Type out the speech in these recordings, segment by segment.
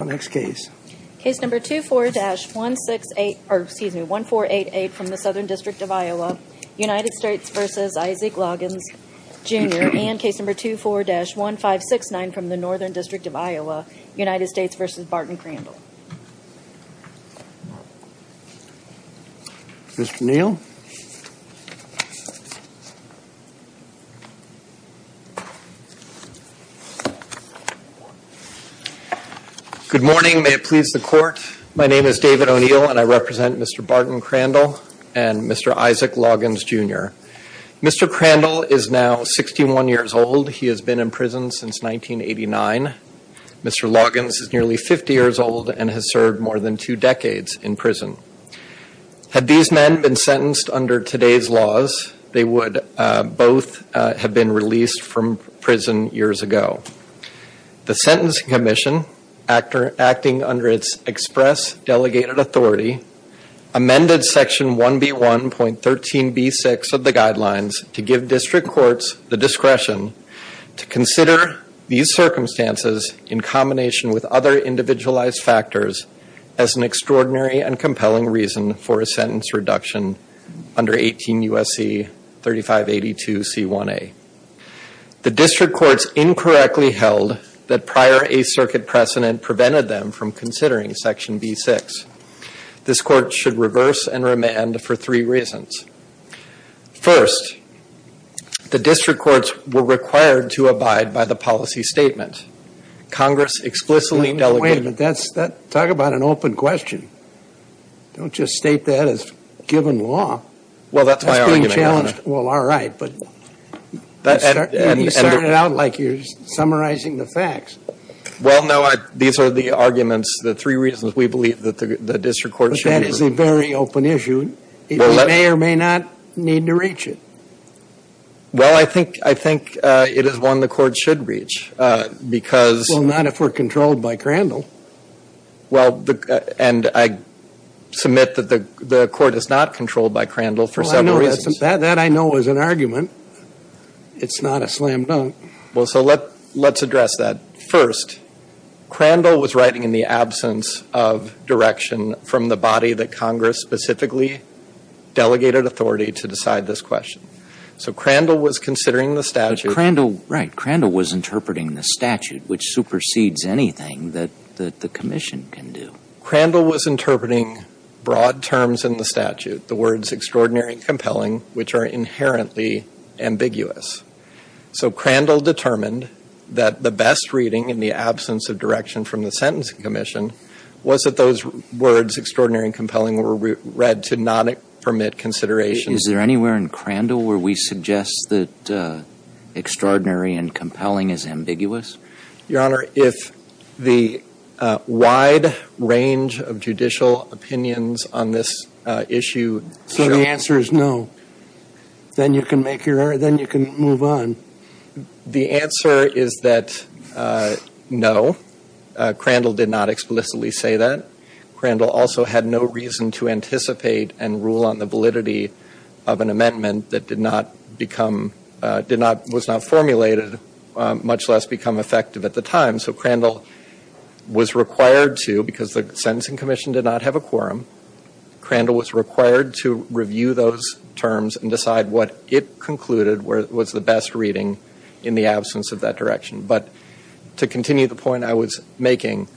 Case No. 24-1488 from the Southern District of Iowa, United States v. Isaac Loggins, Jr. and Case No. 24-1569 from the Northern District of Iowa, United States v. Barton Crandall. Good morning, may it please the Court. My name is David O'Neill and I represent Mr. Barton Crandall and Mr. Isaac Loggins, Jr. Mr. Crandall is now 61 years old. He has been in prison since 1989. Mr. Loggins is nearly 50 years old and has served more than two decades in prison. Had these men been sentenced under today's laws, they would both have been released from prison years ago. The Sentencing Commission, acting under its express delegated authority, amended Section 1B1.13b6 of the Guidelines to give District Courts the discretion to consider these circumstances in combination with other individualized factors as an extraordinary and compelling reason for a sentence reduction under 18 U.S.C. 3582c1a. The District Courts incorrectly held that prior Eighth Circuit precedent prevented them from considering Section B6. This Court should reverse and remand for three reasons. First, the District Courts were required to abide by the policy statement. Congress explicitly delegated... Wait a minute. Talk about an open question. Don't just state that as given law. Well, that's my argument. Well, all right, but you started out like you're summarizing the facts. Well, no, these are the arguments, the three reasons we believe that the District Courts should... But that is a very open issue. We may or may not need to reach it. Well, I think it is one the Court should reach because... Well, not if we're controlled by Crandall. Well, and I submit that the Court is not controlled by Crandall for several reasons. That I know is an argument. It's not a slam dunk. Well, so let's address that. First, Crandall was writing in the absence of direction from the body that Congress specifically delegated authority to decide this question. So Crandall was considering the statute... But Crandall, right, Crandall was interpreting the statute, which supersedes anything that the commission can do. Crandall was interpreting broad terms in the statute, the words extraordinary and compelling, which are inherently ambiguous. So Crandall determined that the best reading in the absence of direction from the Sentencing Commission was that those words, extraordinary and compelling, were read to not permit consideration. Is there anywhere in Crandall where we suggest that extraordinary and compelling is ambiguous? Your Honor, if the wide range of judicial opinions on this issue... So the answer is no. Then you can move on. The answer is that no. Crandall did not explicitly say that. Crandall also had no reason to anticipate and rule on the validity of an amendment that did not become, was not formulated, much less become effective at the time. So Crandall was required to, because the Sentencing Commission did not have a quorum, Crandall was required to review those terms and decide what it concluded was the best reading in the absence of that direction. But to continue the point I was making,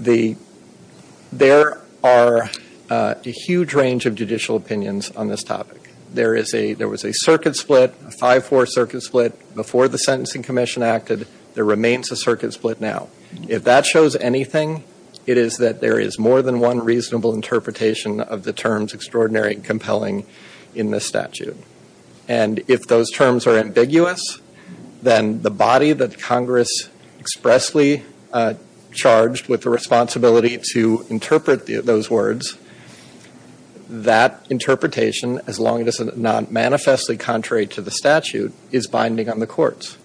there are a huge range of judicial opinions on this topic. There was a circuit split, a 5-4 circuit split, before the Sentencing Commission acted. There remains a circuit split now. If that shows anything, it is that there is more than one reasonable interpretation of the terms extraordinary and compelling in this statute. And if those terms are ambiguous, then the body that Congress expressly charged with the responsibility to interpret those words, that interpretation, as long as it is not manifestly contrary to the statute, is binding on the courts.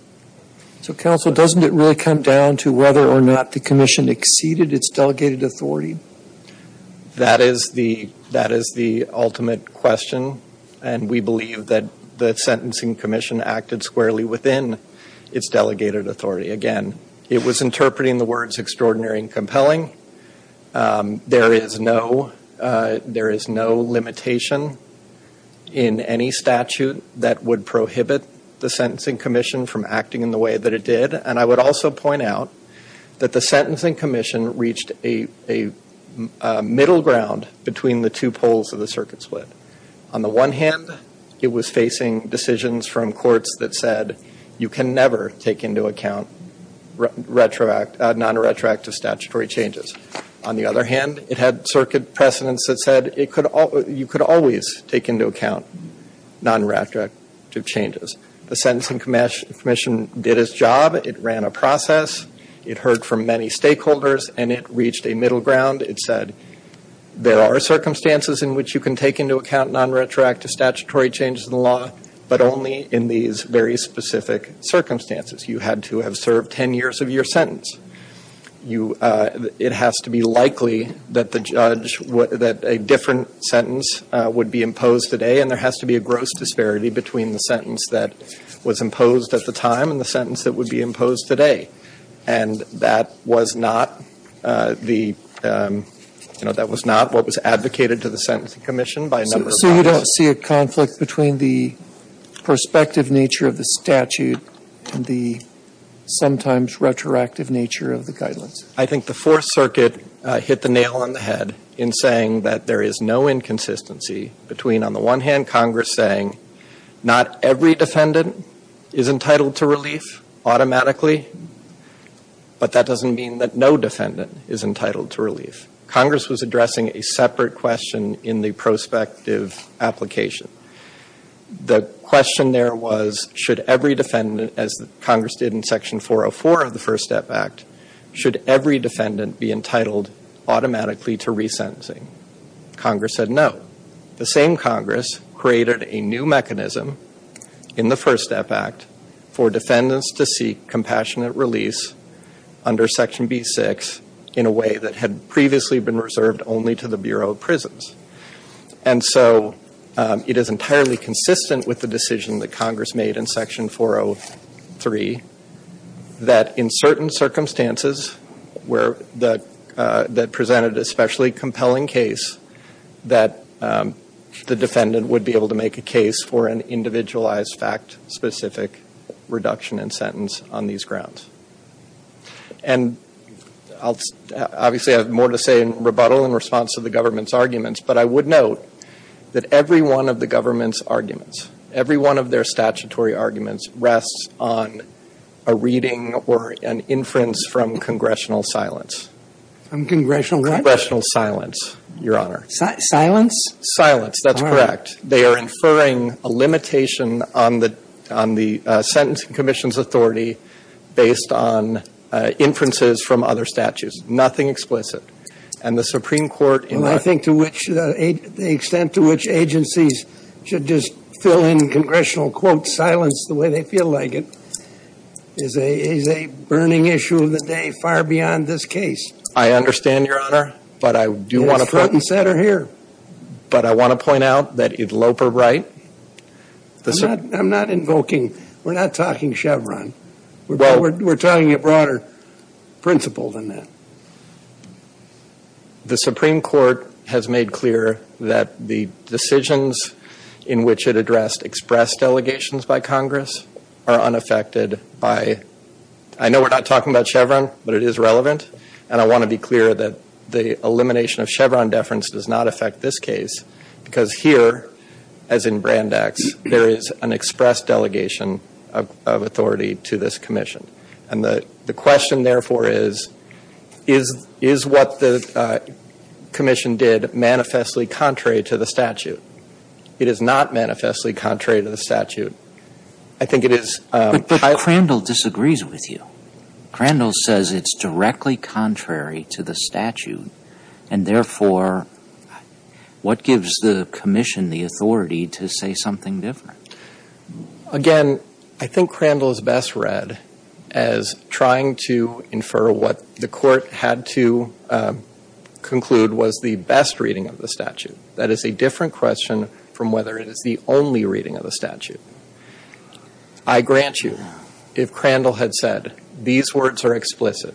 So, Counsel, doesn't it really come down to whether or not the Commission exceeded its delegated authority? That is the ultimate question. And we believe that the Sentencing Commission acted squarely within its delegated authority. Again, it was interpreting the words extraordinary and compelling. There is no limitation in any statute that would prohibit the Sentencing Commission from acting in the way that it did. And I would also point out that the Sentencing Commission reached a middle ground between the two poles of the circuit split. On the one hand, it was facing decisions from courts that said you can never take into account non-retroactive statutory changes. On the other hand, it had circuit precedents that said you could always take into account non-retroactive changes. The Sentencing Commission did its job. It ran a process. It heard from many stakeholders. And it reached a middle ground. It said there are circumstances in which you can take into account non-retroactive statutory changes in the law, but only in these very specific circumstances. You had to have served 10 years of your sentence. It has to be likely that a different sentence would be imposed today, and there has to be a gross disparity between the sentence that was imposed at the time and the sentence that would be imposed today. And that was not the, you know, that was not what was advocated to the Sentencing Commission by a number of bodies. So you don't see a conflict between the prospective nature of the statute and the sometimes retroactive nature of the guidelines? I think the Fourth Circuit hit the nail on the head in saying that there is no inconsistency between, on the one hand, Congress saying not every defendant is entitled to relief automatically, but that doesn't mean that no defendant is entitled to relief. Congress was addressing a separate question in the prospective application. The question there was should every defendant, as Congress did in Section 404 of the First Step Act, should every defendant be entitled automatically to resentencing? Congress said no. The same Congress created a new mechanism in the First Step Act for defendants to seek compassionate release under Section B6 in a way that had previously been reserved only to the Bureau of Prisons. And so it is entirely consistent with the decision that Congress made in Section 403 that in certain circumstances that presented an especially compelling case that the defendant would be able to make a case for an individualized fact-specific reduction in sentence on these grounds. And obviously I have more to say in rebuttal in response to the government's arguments, but I would note that every one of the government's arguments, every one of their statutory arguments, rests on a reading or an inference from congressional silence. From congressional what? Congressional silence, Your Honor. Silence? Silence, that's correct. They are inferring a limitation on the Sentencing Commission's authority based on inferences from other statutes. Nothing explicit. And the Supreme Court in their ---- Well, I think to which the extent to which agencies should just fill in congressional, quote, silence the way they feel like it is a burning issue of the day far beyond this case. I understand, Your Honor, but I do want to point ---- It's front and center here. But I want to point out that in Loper Wright, the ---- I'm not invoking, we're not talking Chevron. We're talking a broader principle than that. The Supreme Court has made clear that the decisions in which it addressed express delegations by Congress are unaffected by ---- I know we're not talking about Chevron, but it is relevant. And I want to be clear that the elimination of Chevron deference does not affect this case because here, as in Brandeis, there is an express delegation of authority to this commission. And the question, therefore, is, is what the commission did manifestly contrary to the statute? It is not manifestly contrary to the statute. I think it is ---- But Crandall disagrees with you. Crandall says it's directly contrary to the statute. And therefore, what gives the commission the authority to say something different? Again, I think Crandall is best read as trying to infer what the court had to conclude was the best reading of the statute. That is a different question from whether it is the only reading of the statute. I grant you, if Crandall had said, these words are explicit,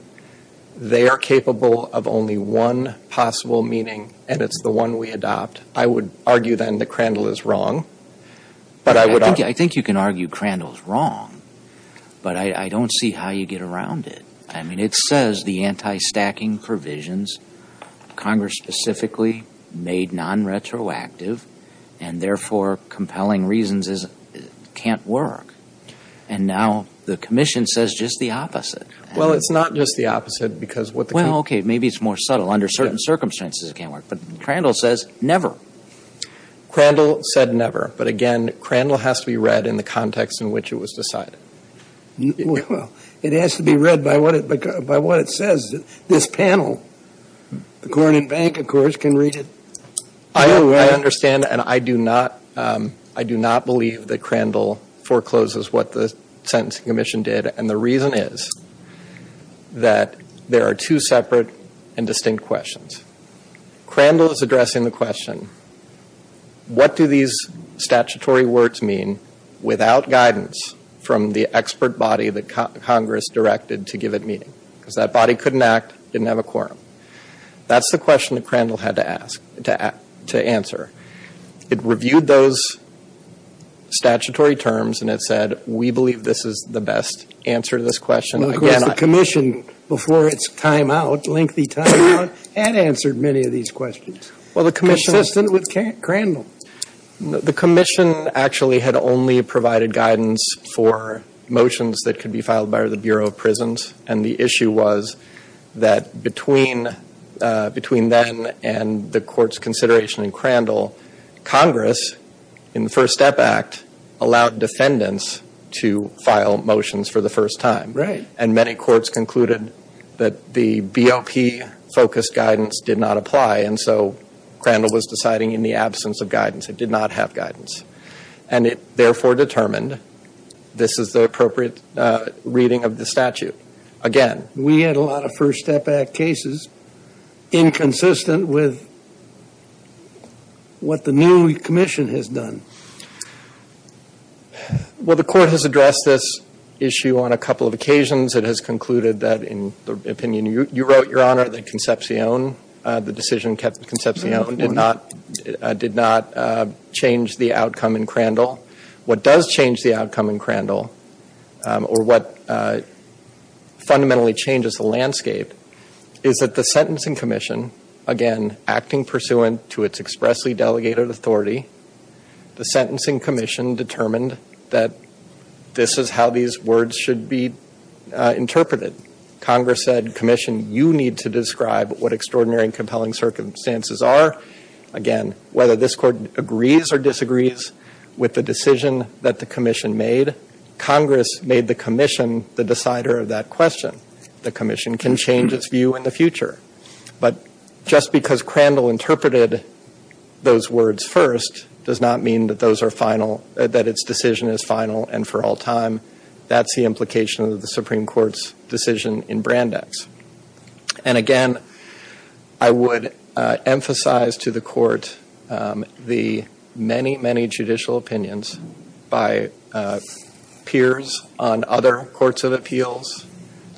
they are capable of only one possible meaning and it's the one we adopt, I would argue then that Crandall is wrong. But I would argue ---- I think you can argue Crandall is wrong, but I don't see how you get around it. I mean, it says the anti-stacking provisions, Congress specifically made non-retroactive, and therefore compelling reasons can't work. And now the commission says just the opposite. Well, it's not just the opposite because what the ---- Well, okay, maybe it's more subtle. Under certain circumstances it can't work. But Crandall says never. Crandall said never. But, again, Crandall has to be read in the context in which it was decided. Well, it has to be read by what it says. This panel, the Corning Bank, of course, can read it. I understand and I do not believe that Crandall forecloses what the Sentencing Commission did. And the reason is that there are two separate and distinct questions. Crandall is addressing the question, what do these statutory words mean without guidance from the expert body that Congress directed to give it meaning? Because that body couldn't act, didn't have a quorum. That's the question that Crandall had to ask, to answer. It reviewed those statutory terms and it said, we believe this is the best answer to this question. The Commission, before its time out, lengthy time out, had answered many of these questions. Consistent with Crandall. The Commission actually had only provided guidance for motions that could be filed by the Bureau of Prisons. And the issue was that between then and the Court's consideration in Crandall, Congress, in the First Step Act, allowed defendants to file motions for the first time. Right. And many courts concluded that the BOP-focused guidance did not apply. And so Crandall was deciding in the absence of guidance. It did not have guidance. And it therefore determined this is the appropriate reading of the statute. Again. We had a lot of First Step Act cases inconsistent with what the new Commission has done. Well, the Court has addressed this issue on a couple of occasions. It has concluded that, in the opinion you wrote, Your Honor, that Concepcion, the decision kept Concepcion, did not change the outcome in Crandall. What does change the outcome in Crandall, or what fundamentally changes the landscape, is that the Sentencing Commission, again, acting pursuant to its expressly delegated authority, the Sentencing Commission determined that this is how these words should be interpreted. Congress said, Commission, you need to describe what extraordinary and compelling circumstances are. Again, whether this Court agrees or disagrees with the decision that the Commission made, Congress made the Commission the decider of that question. The Commission can change its view in the future. But just because Crandall interpreted those words first does not mean that those are final, that its decision is final and for all time. That's the implication of the Supreme Court's decision in Brandeis. And again, I would emphasize to the Court the many, many judicial opinions by peers on other courts of appeals,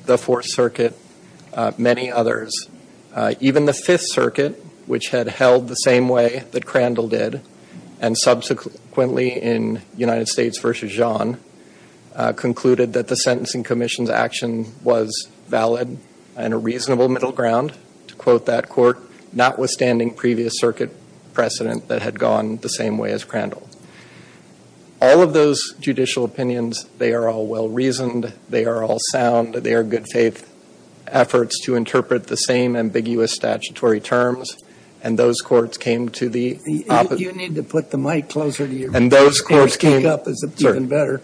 the Fourth Circuit, many others. Even the Fifth Circuit, which had held the same way that Crandall did, and subsequently in United States v. Jean, concluded that the Sentencing Commission's action was valid and a reasonable middle ground, to quote that court, notwithstanding previous circuit precedent that had gone the same way as Crandall. All of those judicial opinions, they are all well-reasoned, they are all sound, they are good-faith efforts to interpret the same ambiguous statutory terms, and those courts came to the opposite. You need to put the mic closer to you. Those courts came to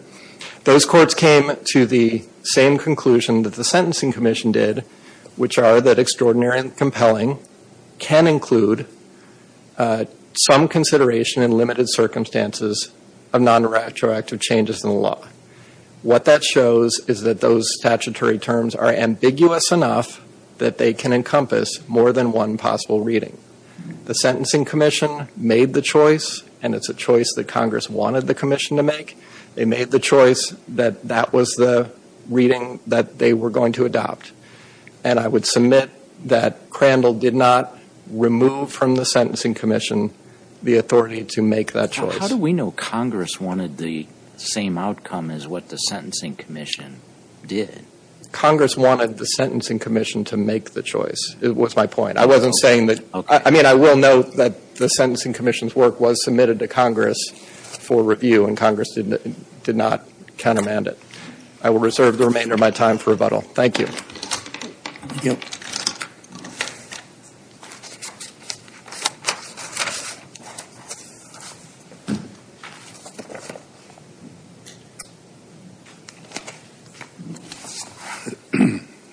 the same conclusion that the Sentencing Commission did, which are that extraordinary and compelling can include some consideration in limited circumstances of non-retroactive changes in the law. What that shows is that those statutory terms are ambiguous enough that they can encompass more than one possible reading. The Sentencing Commission made the choice, and it's a choice that Congress wanted the Commission to make. They made the choice that that was the reading that they were going to adopt. And I would submit that Crandall did not remove from the Sentencing Commission the authority to make that choice. How do we know Congress wanted the same outcome as what the Sentencing Commission did? Congress wanted the Sentencing Commission to make the choice, was my point. I wasn't saying that. I mean, I will note that the Sentencing Commission's work was submitted to Congress for review, and Congress did not countermand it. I will reserve the remainder of my time for rebuttal. Thank you.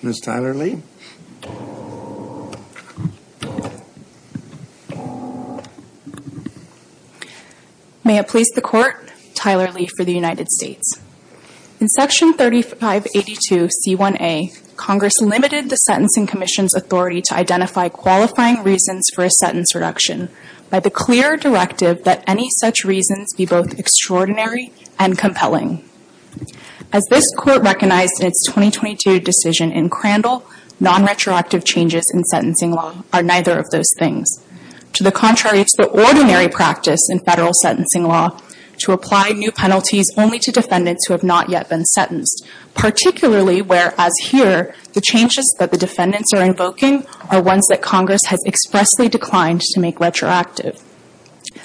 Ms. Tyler Lee? May it please the Court, Tyler Lee for the United States. In Section 3582C1A, Congress limited the Sentencing Commission's authority to identify qualifying reasons for a sentence reduction by the clear directive that any such reasons be both extraordinary and compelling. As this Court recognized in its 2022 decision in Crandall, non-retroactive changes in sentencing law are neither of those things. To the contrary, it's the ordinary practice in federal sentencing law to apply new penalties only to defendants who have not yet been sentenced, particularly whereas here the changes that the defendants are invoking are ones that Congress has expressly declined to make retroactive.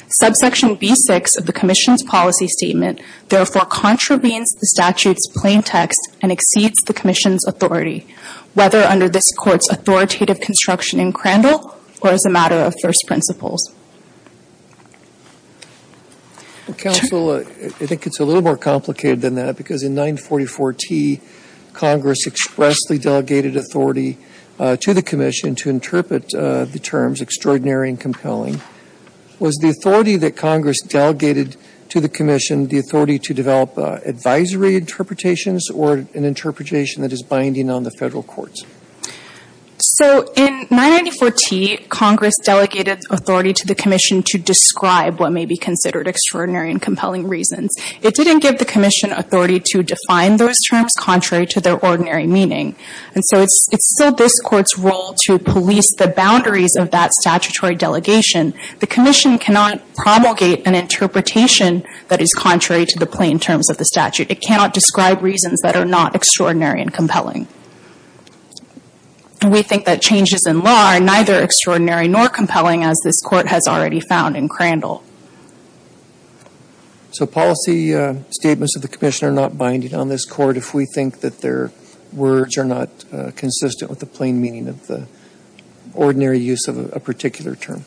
Subsection B6 of the Commission's policy statement therefore contravenes the statute's plaintext and exceeds the Commission's authority, whether under this Court's authoritative construction in Crandall or as a matter of first principles. Counsel, I think it's a little more complicated than that because in 944T, Congress expressly delegated authority to the Commission to interpret the terms extraordinary and compelling. Was the authority that Congress delegated to the Commission the authority to develop advisory interpretations or an interpretation that is binding on the federal courts? So in 994T, Congress delegated authority to the Commission to describe what may be considered extraordinary and compelling reasons. It didn't give the Commission authority to define those terms contrary to their ordinary meaning. And so it's still this Court's role to police the boundaries of that statutory delegation. The Commission cannot propagate an interpretation that is contrary to the plain terms of the statute. It cannot describe reasons that are not extraordinary and compelling. We think that changes in law are neither extraordinary nor compelling as this Court has already found in Crandall. So policy statements of the Commission are not binding on this Court if we think that their words are not consistent with the plain meaning of the ordinary use of a particular term?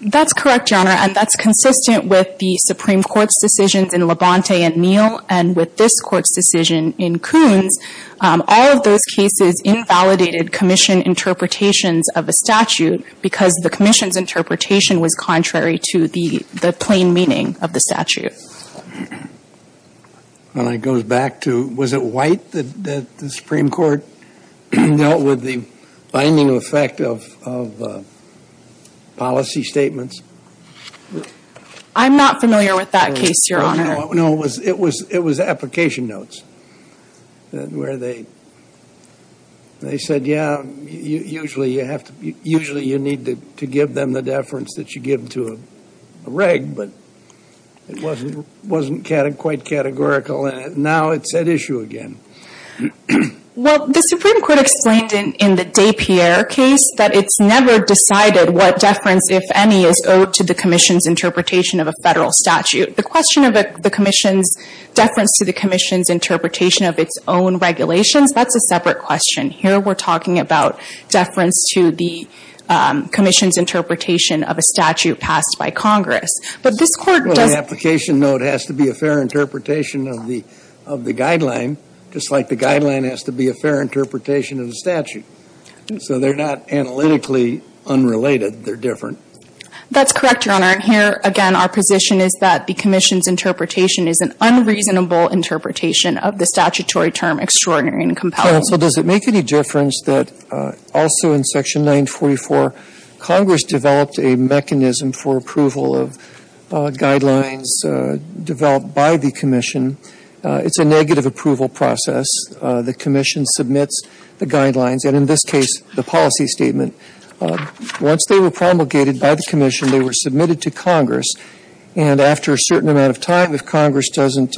That's correct, Your Honor. And that's consistent with the Supreme Court's decisions in Labonte and Neal and with this Court's decision in Coons. All of those cases invalidated Commission interpretations of a statute because the Commission's interpretation was contrary to the plain meaning of the statute. And it goes back to, was it White that the Supreme Court dealt with the binding effect of policy statements? I'm not familiar with that case, Your Honor. No, it was application notes where they said, yeah, usually you need to give them the deference that you give to a reg, but it wasn't quite categorical, and now it's at issue again. Well, the Supreme Court explained in the Despierre case that it's never decided what deference, if any, is owed to the Commission's interpretation of a federal statute. The question of the Commission's deference to the Commission's interpretation of its own regulations, that's a separate question. Here we're talking about deference to the Commission's interpretation of a statute passed by Congress. But this Court does – Well, the application note has to be a fair interpretation of the guideline, just like the guideline has to be a fair interpretation of the statute. So they're not analytically unrelated. They're different. That's correct, Your Honor. And here, again, our position is that the Commission's interpretation is an unreasonable interpretation of the statutory term extraordinary and compelling. Counsel, does it make any difference that also in Section 944, Congress developed a mechanism for approval of guidelines developed by the Commission? It's a negative approval process. The Commission submits the guidelines, and in this case, the policy statement. Once they were promulgated by the Commission, they were submitted to Congress, and after a certain amount of time, if Congress doesn't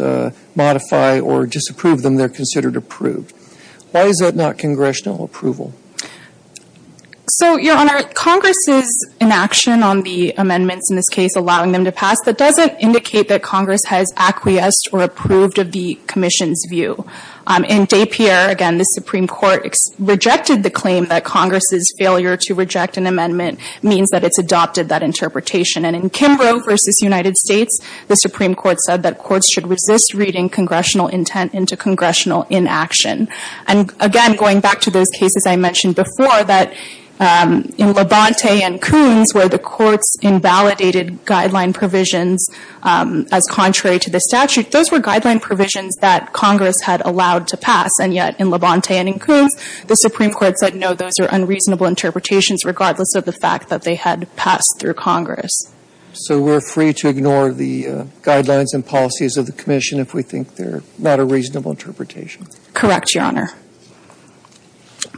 modify or disapprove them, they're considered approved. Why is that not congressional approval? So, Your Honor, Congress's inaction on the amendments in this case allowing them to pass, that doesn't indicate that Congress has acquiesced or approved of the Commission's view. In Dapier, again, the Supreme Court rejected the claim that Congress's failure to reject an amendment means that it's adopted that interpretation. And in Kimbrough v. United States, the Supreme Court said that courts should resist reading congressional intent into congressional inaction. And, again, going back to those cases I mentioned before, that in Labonte and Coons, where the courts invalidated guideline provisions as contrary to the statute, those were guideline provisions that Congress had allowed to pass. And yet, in Labonte and in Coons, the Supreme Court said, no, those are unreasonable interpretations, regardless of the fact that they had passed through Congress. So we're free to ignore the guidelines and policies of the Commission if we think they're not a reasonable interpretation? Correct, Your Honor.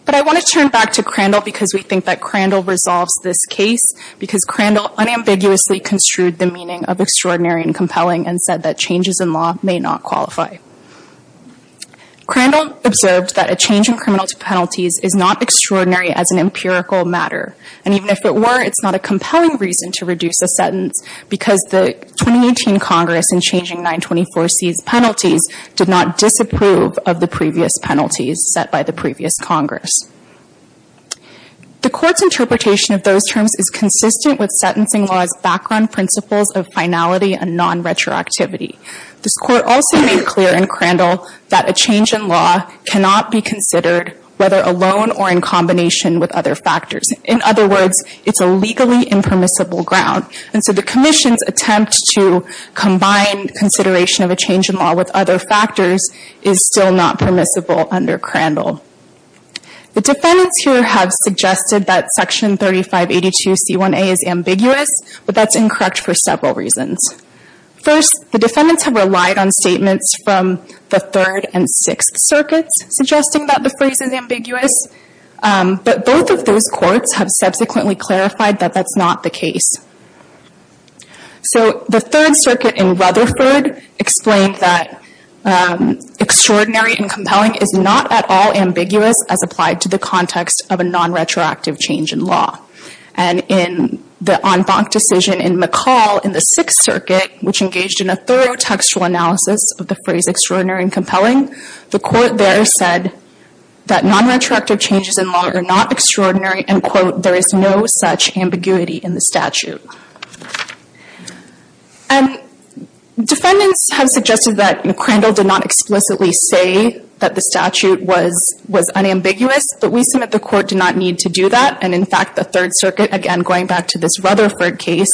But I want to turn back to Crandall because we think that Crandall resolves this case, because Crandall unambiguously construed the meaning of extraordinary and compelling and said that changes in law may not qualify. Crandall observed that a change in criminal penalties is not extraordinary as an empirical matter. And even if it were, it's not a compelling reason to reduce a sentence because the 2018 Congress in changing 924C's penalties did not disapprove of the previous penalties set by the previous Congress. The Court's interpretation of those terms is consistent with sentencing law's background principles of finality and non-retroactivity. This Court also made clear in Crandall that a change in law cannot be considered whether alone or in combination with other factors. In other words, it's a legally impermissible ground. And so the Commission's attempt to combine consideration of a change in law with other factors is still not permissible under Crandall. The defendants here have suggested that Section 3582C1A is ambiguous, but that's incorrect for several reasons. First, the defendants have relied on statements from the Third and Sixth Circuits suggesting that the phrase is ambiguous. But both of those courts have subsequently clarified that that's not the case. So the Third Circuit in Rutherford explained that extraordinary and compelling is not at all ambiguous as applied to the context of a non-retroactive change in law. And in the en banc decision in McCall in the Sixth Circuit, which engaged in a thorough textual analysis of the phrase extraordinary and compelling, the Court there said that non-retroactive changes in law are not extraordinary and, quote, there is no such ambiguity in the statute. And defendants have suggested that Crandall did not explicitly say that the statute was unambiguous, but we submit the Court did not need to do that. And, in fact, the Third Circuit, again, going back to this Rutherford case,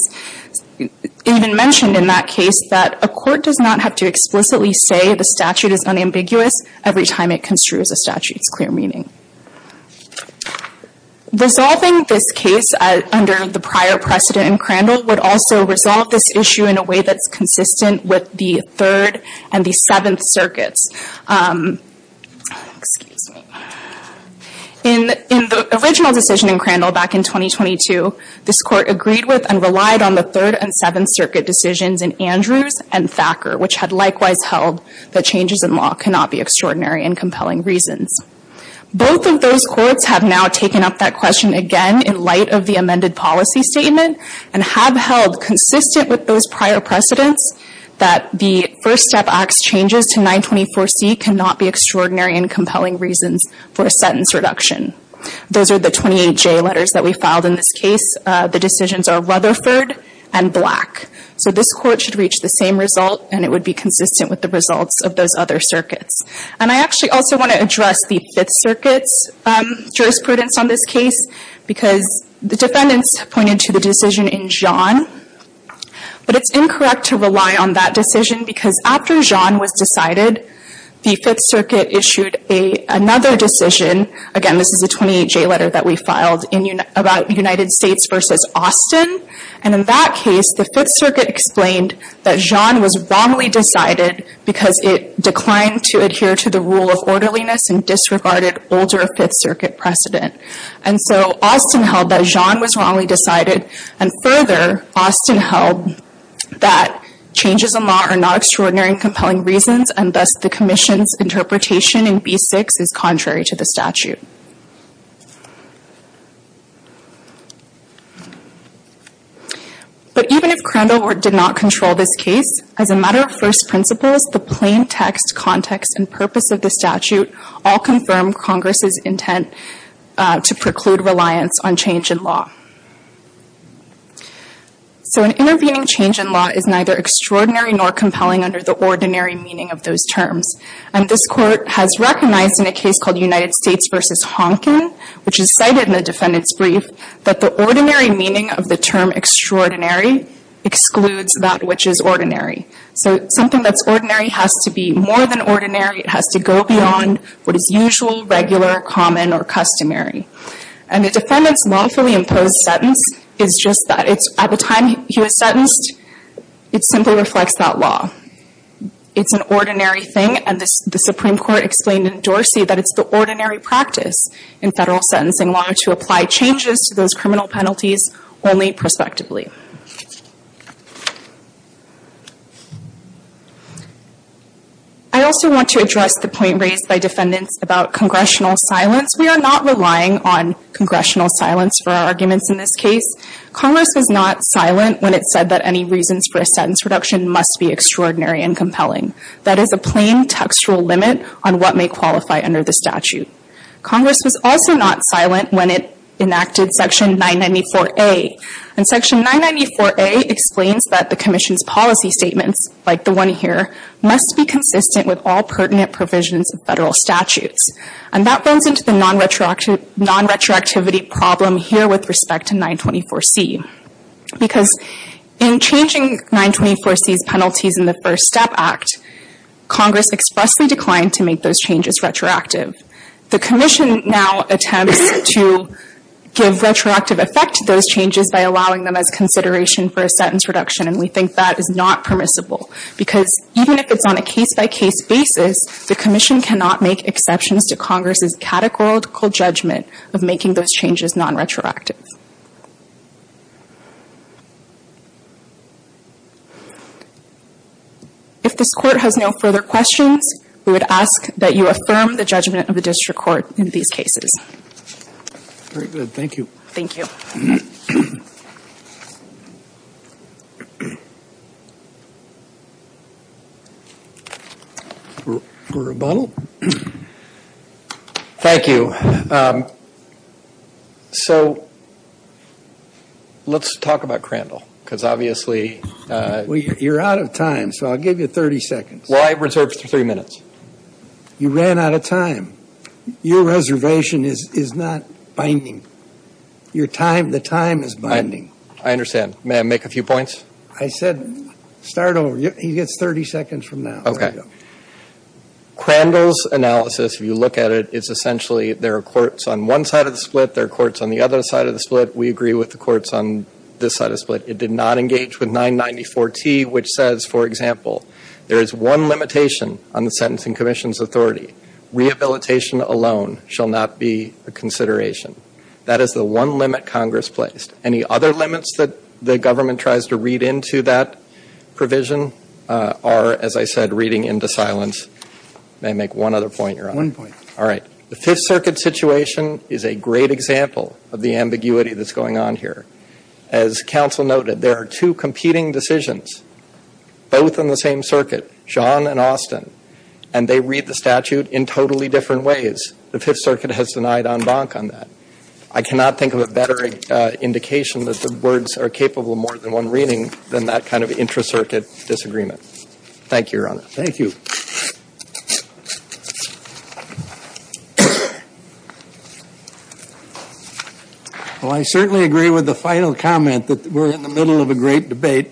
even mentioned in that case that a court does not have to explicitly say the statute is unambiguous every time it construes a statute's clear meaning. Resolving this case under the prior precedent in Crandall would also resolve this issue in a way that's consistent with the Third and the Seventh Circuits. Excuse me. In the original decision in Crandall back in 2022, this Court agreed with and relied on the Third and Seventh Circuit decisions in Andrews and Thacker, which had likewise held that changes in law cannot be extraordinary and compelling reasons. Both of those courts have now taken up that question again in light of the amended policy statement and have held consistent with those prior precedents that the First Step Act's changes to 924C cannot be extraordinary and compelling reasons for a sentence reduction. Those are the 28J letters that we filed in this case. The decisions are Rutherford and Black. So this Court should reach the same result and it would be consistent with the results of those other circuits. And I actually also want to address the Fifth Circuit's jurisprudence on this case because the defendants pointed to the decision in Jeanne. But it's incorrect to rely on that decision because after Jeanne was decided, the Fifth Circuit issued another decision. Again, this is a 28J letter that we filed about United States v. Austin. And in that case, the Fifth Circuit explained that Jeanne was wrongly decided because it declined to adhere to the rule of orderliness and disregarded older Fifth Circuit precedent. And so Austin held that Jeanne was wrongly decided. And further, Austin held that changes in law are not extraordinary and compelling reasons and thus the Commission's interpretation in B6 is contrary to the statute. But even if Crandall did not control this case, as a matter of first principles, the plain text context and purpose of the statute all confirm Congress's intent to preclude reliance on change in law. So an intervening change in law is neither extraordinary nor compelling under the ordinary meaning of those terms. And this Court has recognized in a case called United States v. Honkin, which is cited in the defendant's brief, that the ordinary meaning of the term extraordinary excludes that which is ordinary. So something that's ordinary has to be more than ordinary. It has to go beyond what is usual, regular, common, or customary. And the defendant's lawfully imposed sentence is just that. At the time he was sentenced, it simply reflects that law. It's an ordinary thing. And the Supreme Court explained in Dorsey that it's the ordinary practice in federal sentencing law to apply changes to those criminal penalties only prospectively. I also want to address the point raised by defendants about congressional silence. We are not relying on congressional silence for our arguments in this case. Congress was not silent when it said that any reasons for a sentence reduction must be extraordinary and compelling. That is a plain textual limit on what may qualify under the statute. Congress was also not silent when it enacted Section 994A. And Section 994A explains that the Commission's policy statements, like the one here, must be consistent with all pertinent provisions of federal statutes. And that runs into the non-retroactivity problem here with respect to 924C. Because in changing 924C's penalties in the First Step Act, Congress expressly declined to make those changes retroactive. The Commission now attempts to give retroactive effect to those changes by allowing them as consideration for a sentence reduction, and we think that is not permissible. Because even if it's on a case-by-case basis, the Commission cannot make exceptions to Congress's categorical judgment of making those changes non-retroactive. If this Court has no further questions, we would ask that you affirm the judgment of the District Court in these cases. Very good. Thank you. Thank you. Rebuttal? Thank you. So let's talk about Crandall, because obviously – Well, you're out of time, so I'll give you 30 seconds. Well, I reserved three minutes. You ran out of time. Your reservation is not binding. The time is binding. I understand. May I make a few points? I said start over. He gets 30 seconds from now. Okay. Crandall's analysis, if you look at it, is essentially there are courts on one side of the split, there are courts on the other side of the split. We agree with the courts on this side of the split. It did not engage with 994T, which says, for example, there is one limitation on the Sentencing Commission's authority. Rehabilitation alone shall not be a consideration. That is the one limit Congress placed. Any other limits that the government tries to read into that provision are, as I said, reading into silence. May I make one other point, Your Honor? One point. All right. The Fifth Circuit situation is a great example of the ambiguity that's going on here. As counsel noted, there are two competing decisions, both on the same circuit, John and Austin, and they read the statute in totally different ways. The Fifth Circuit has denied en banc on that. I cannot think of a better indication that the words are capable of more than one reading than that kind of intra-circuit disagreement. Thank you, Your Honor. Thank you. Well, I certainly agree with the final comment that we're in the middle of a great debate,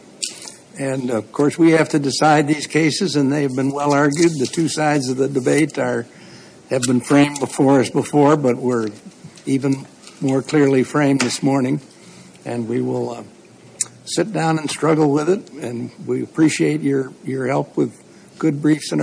and, of course, we have to decide these cases, and they have been well argued. The two sides of the debate have been framed before us before, but we're even more clearly framed this morning, and we will sit down and struggle with it, and we appreciate your help with good briefs and arguments.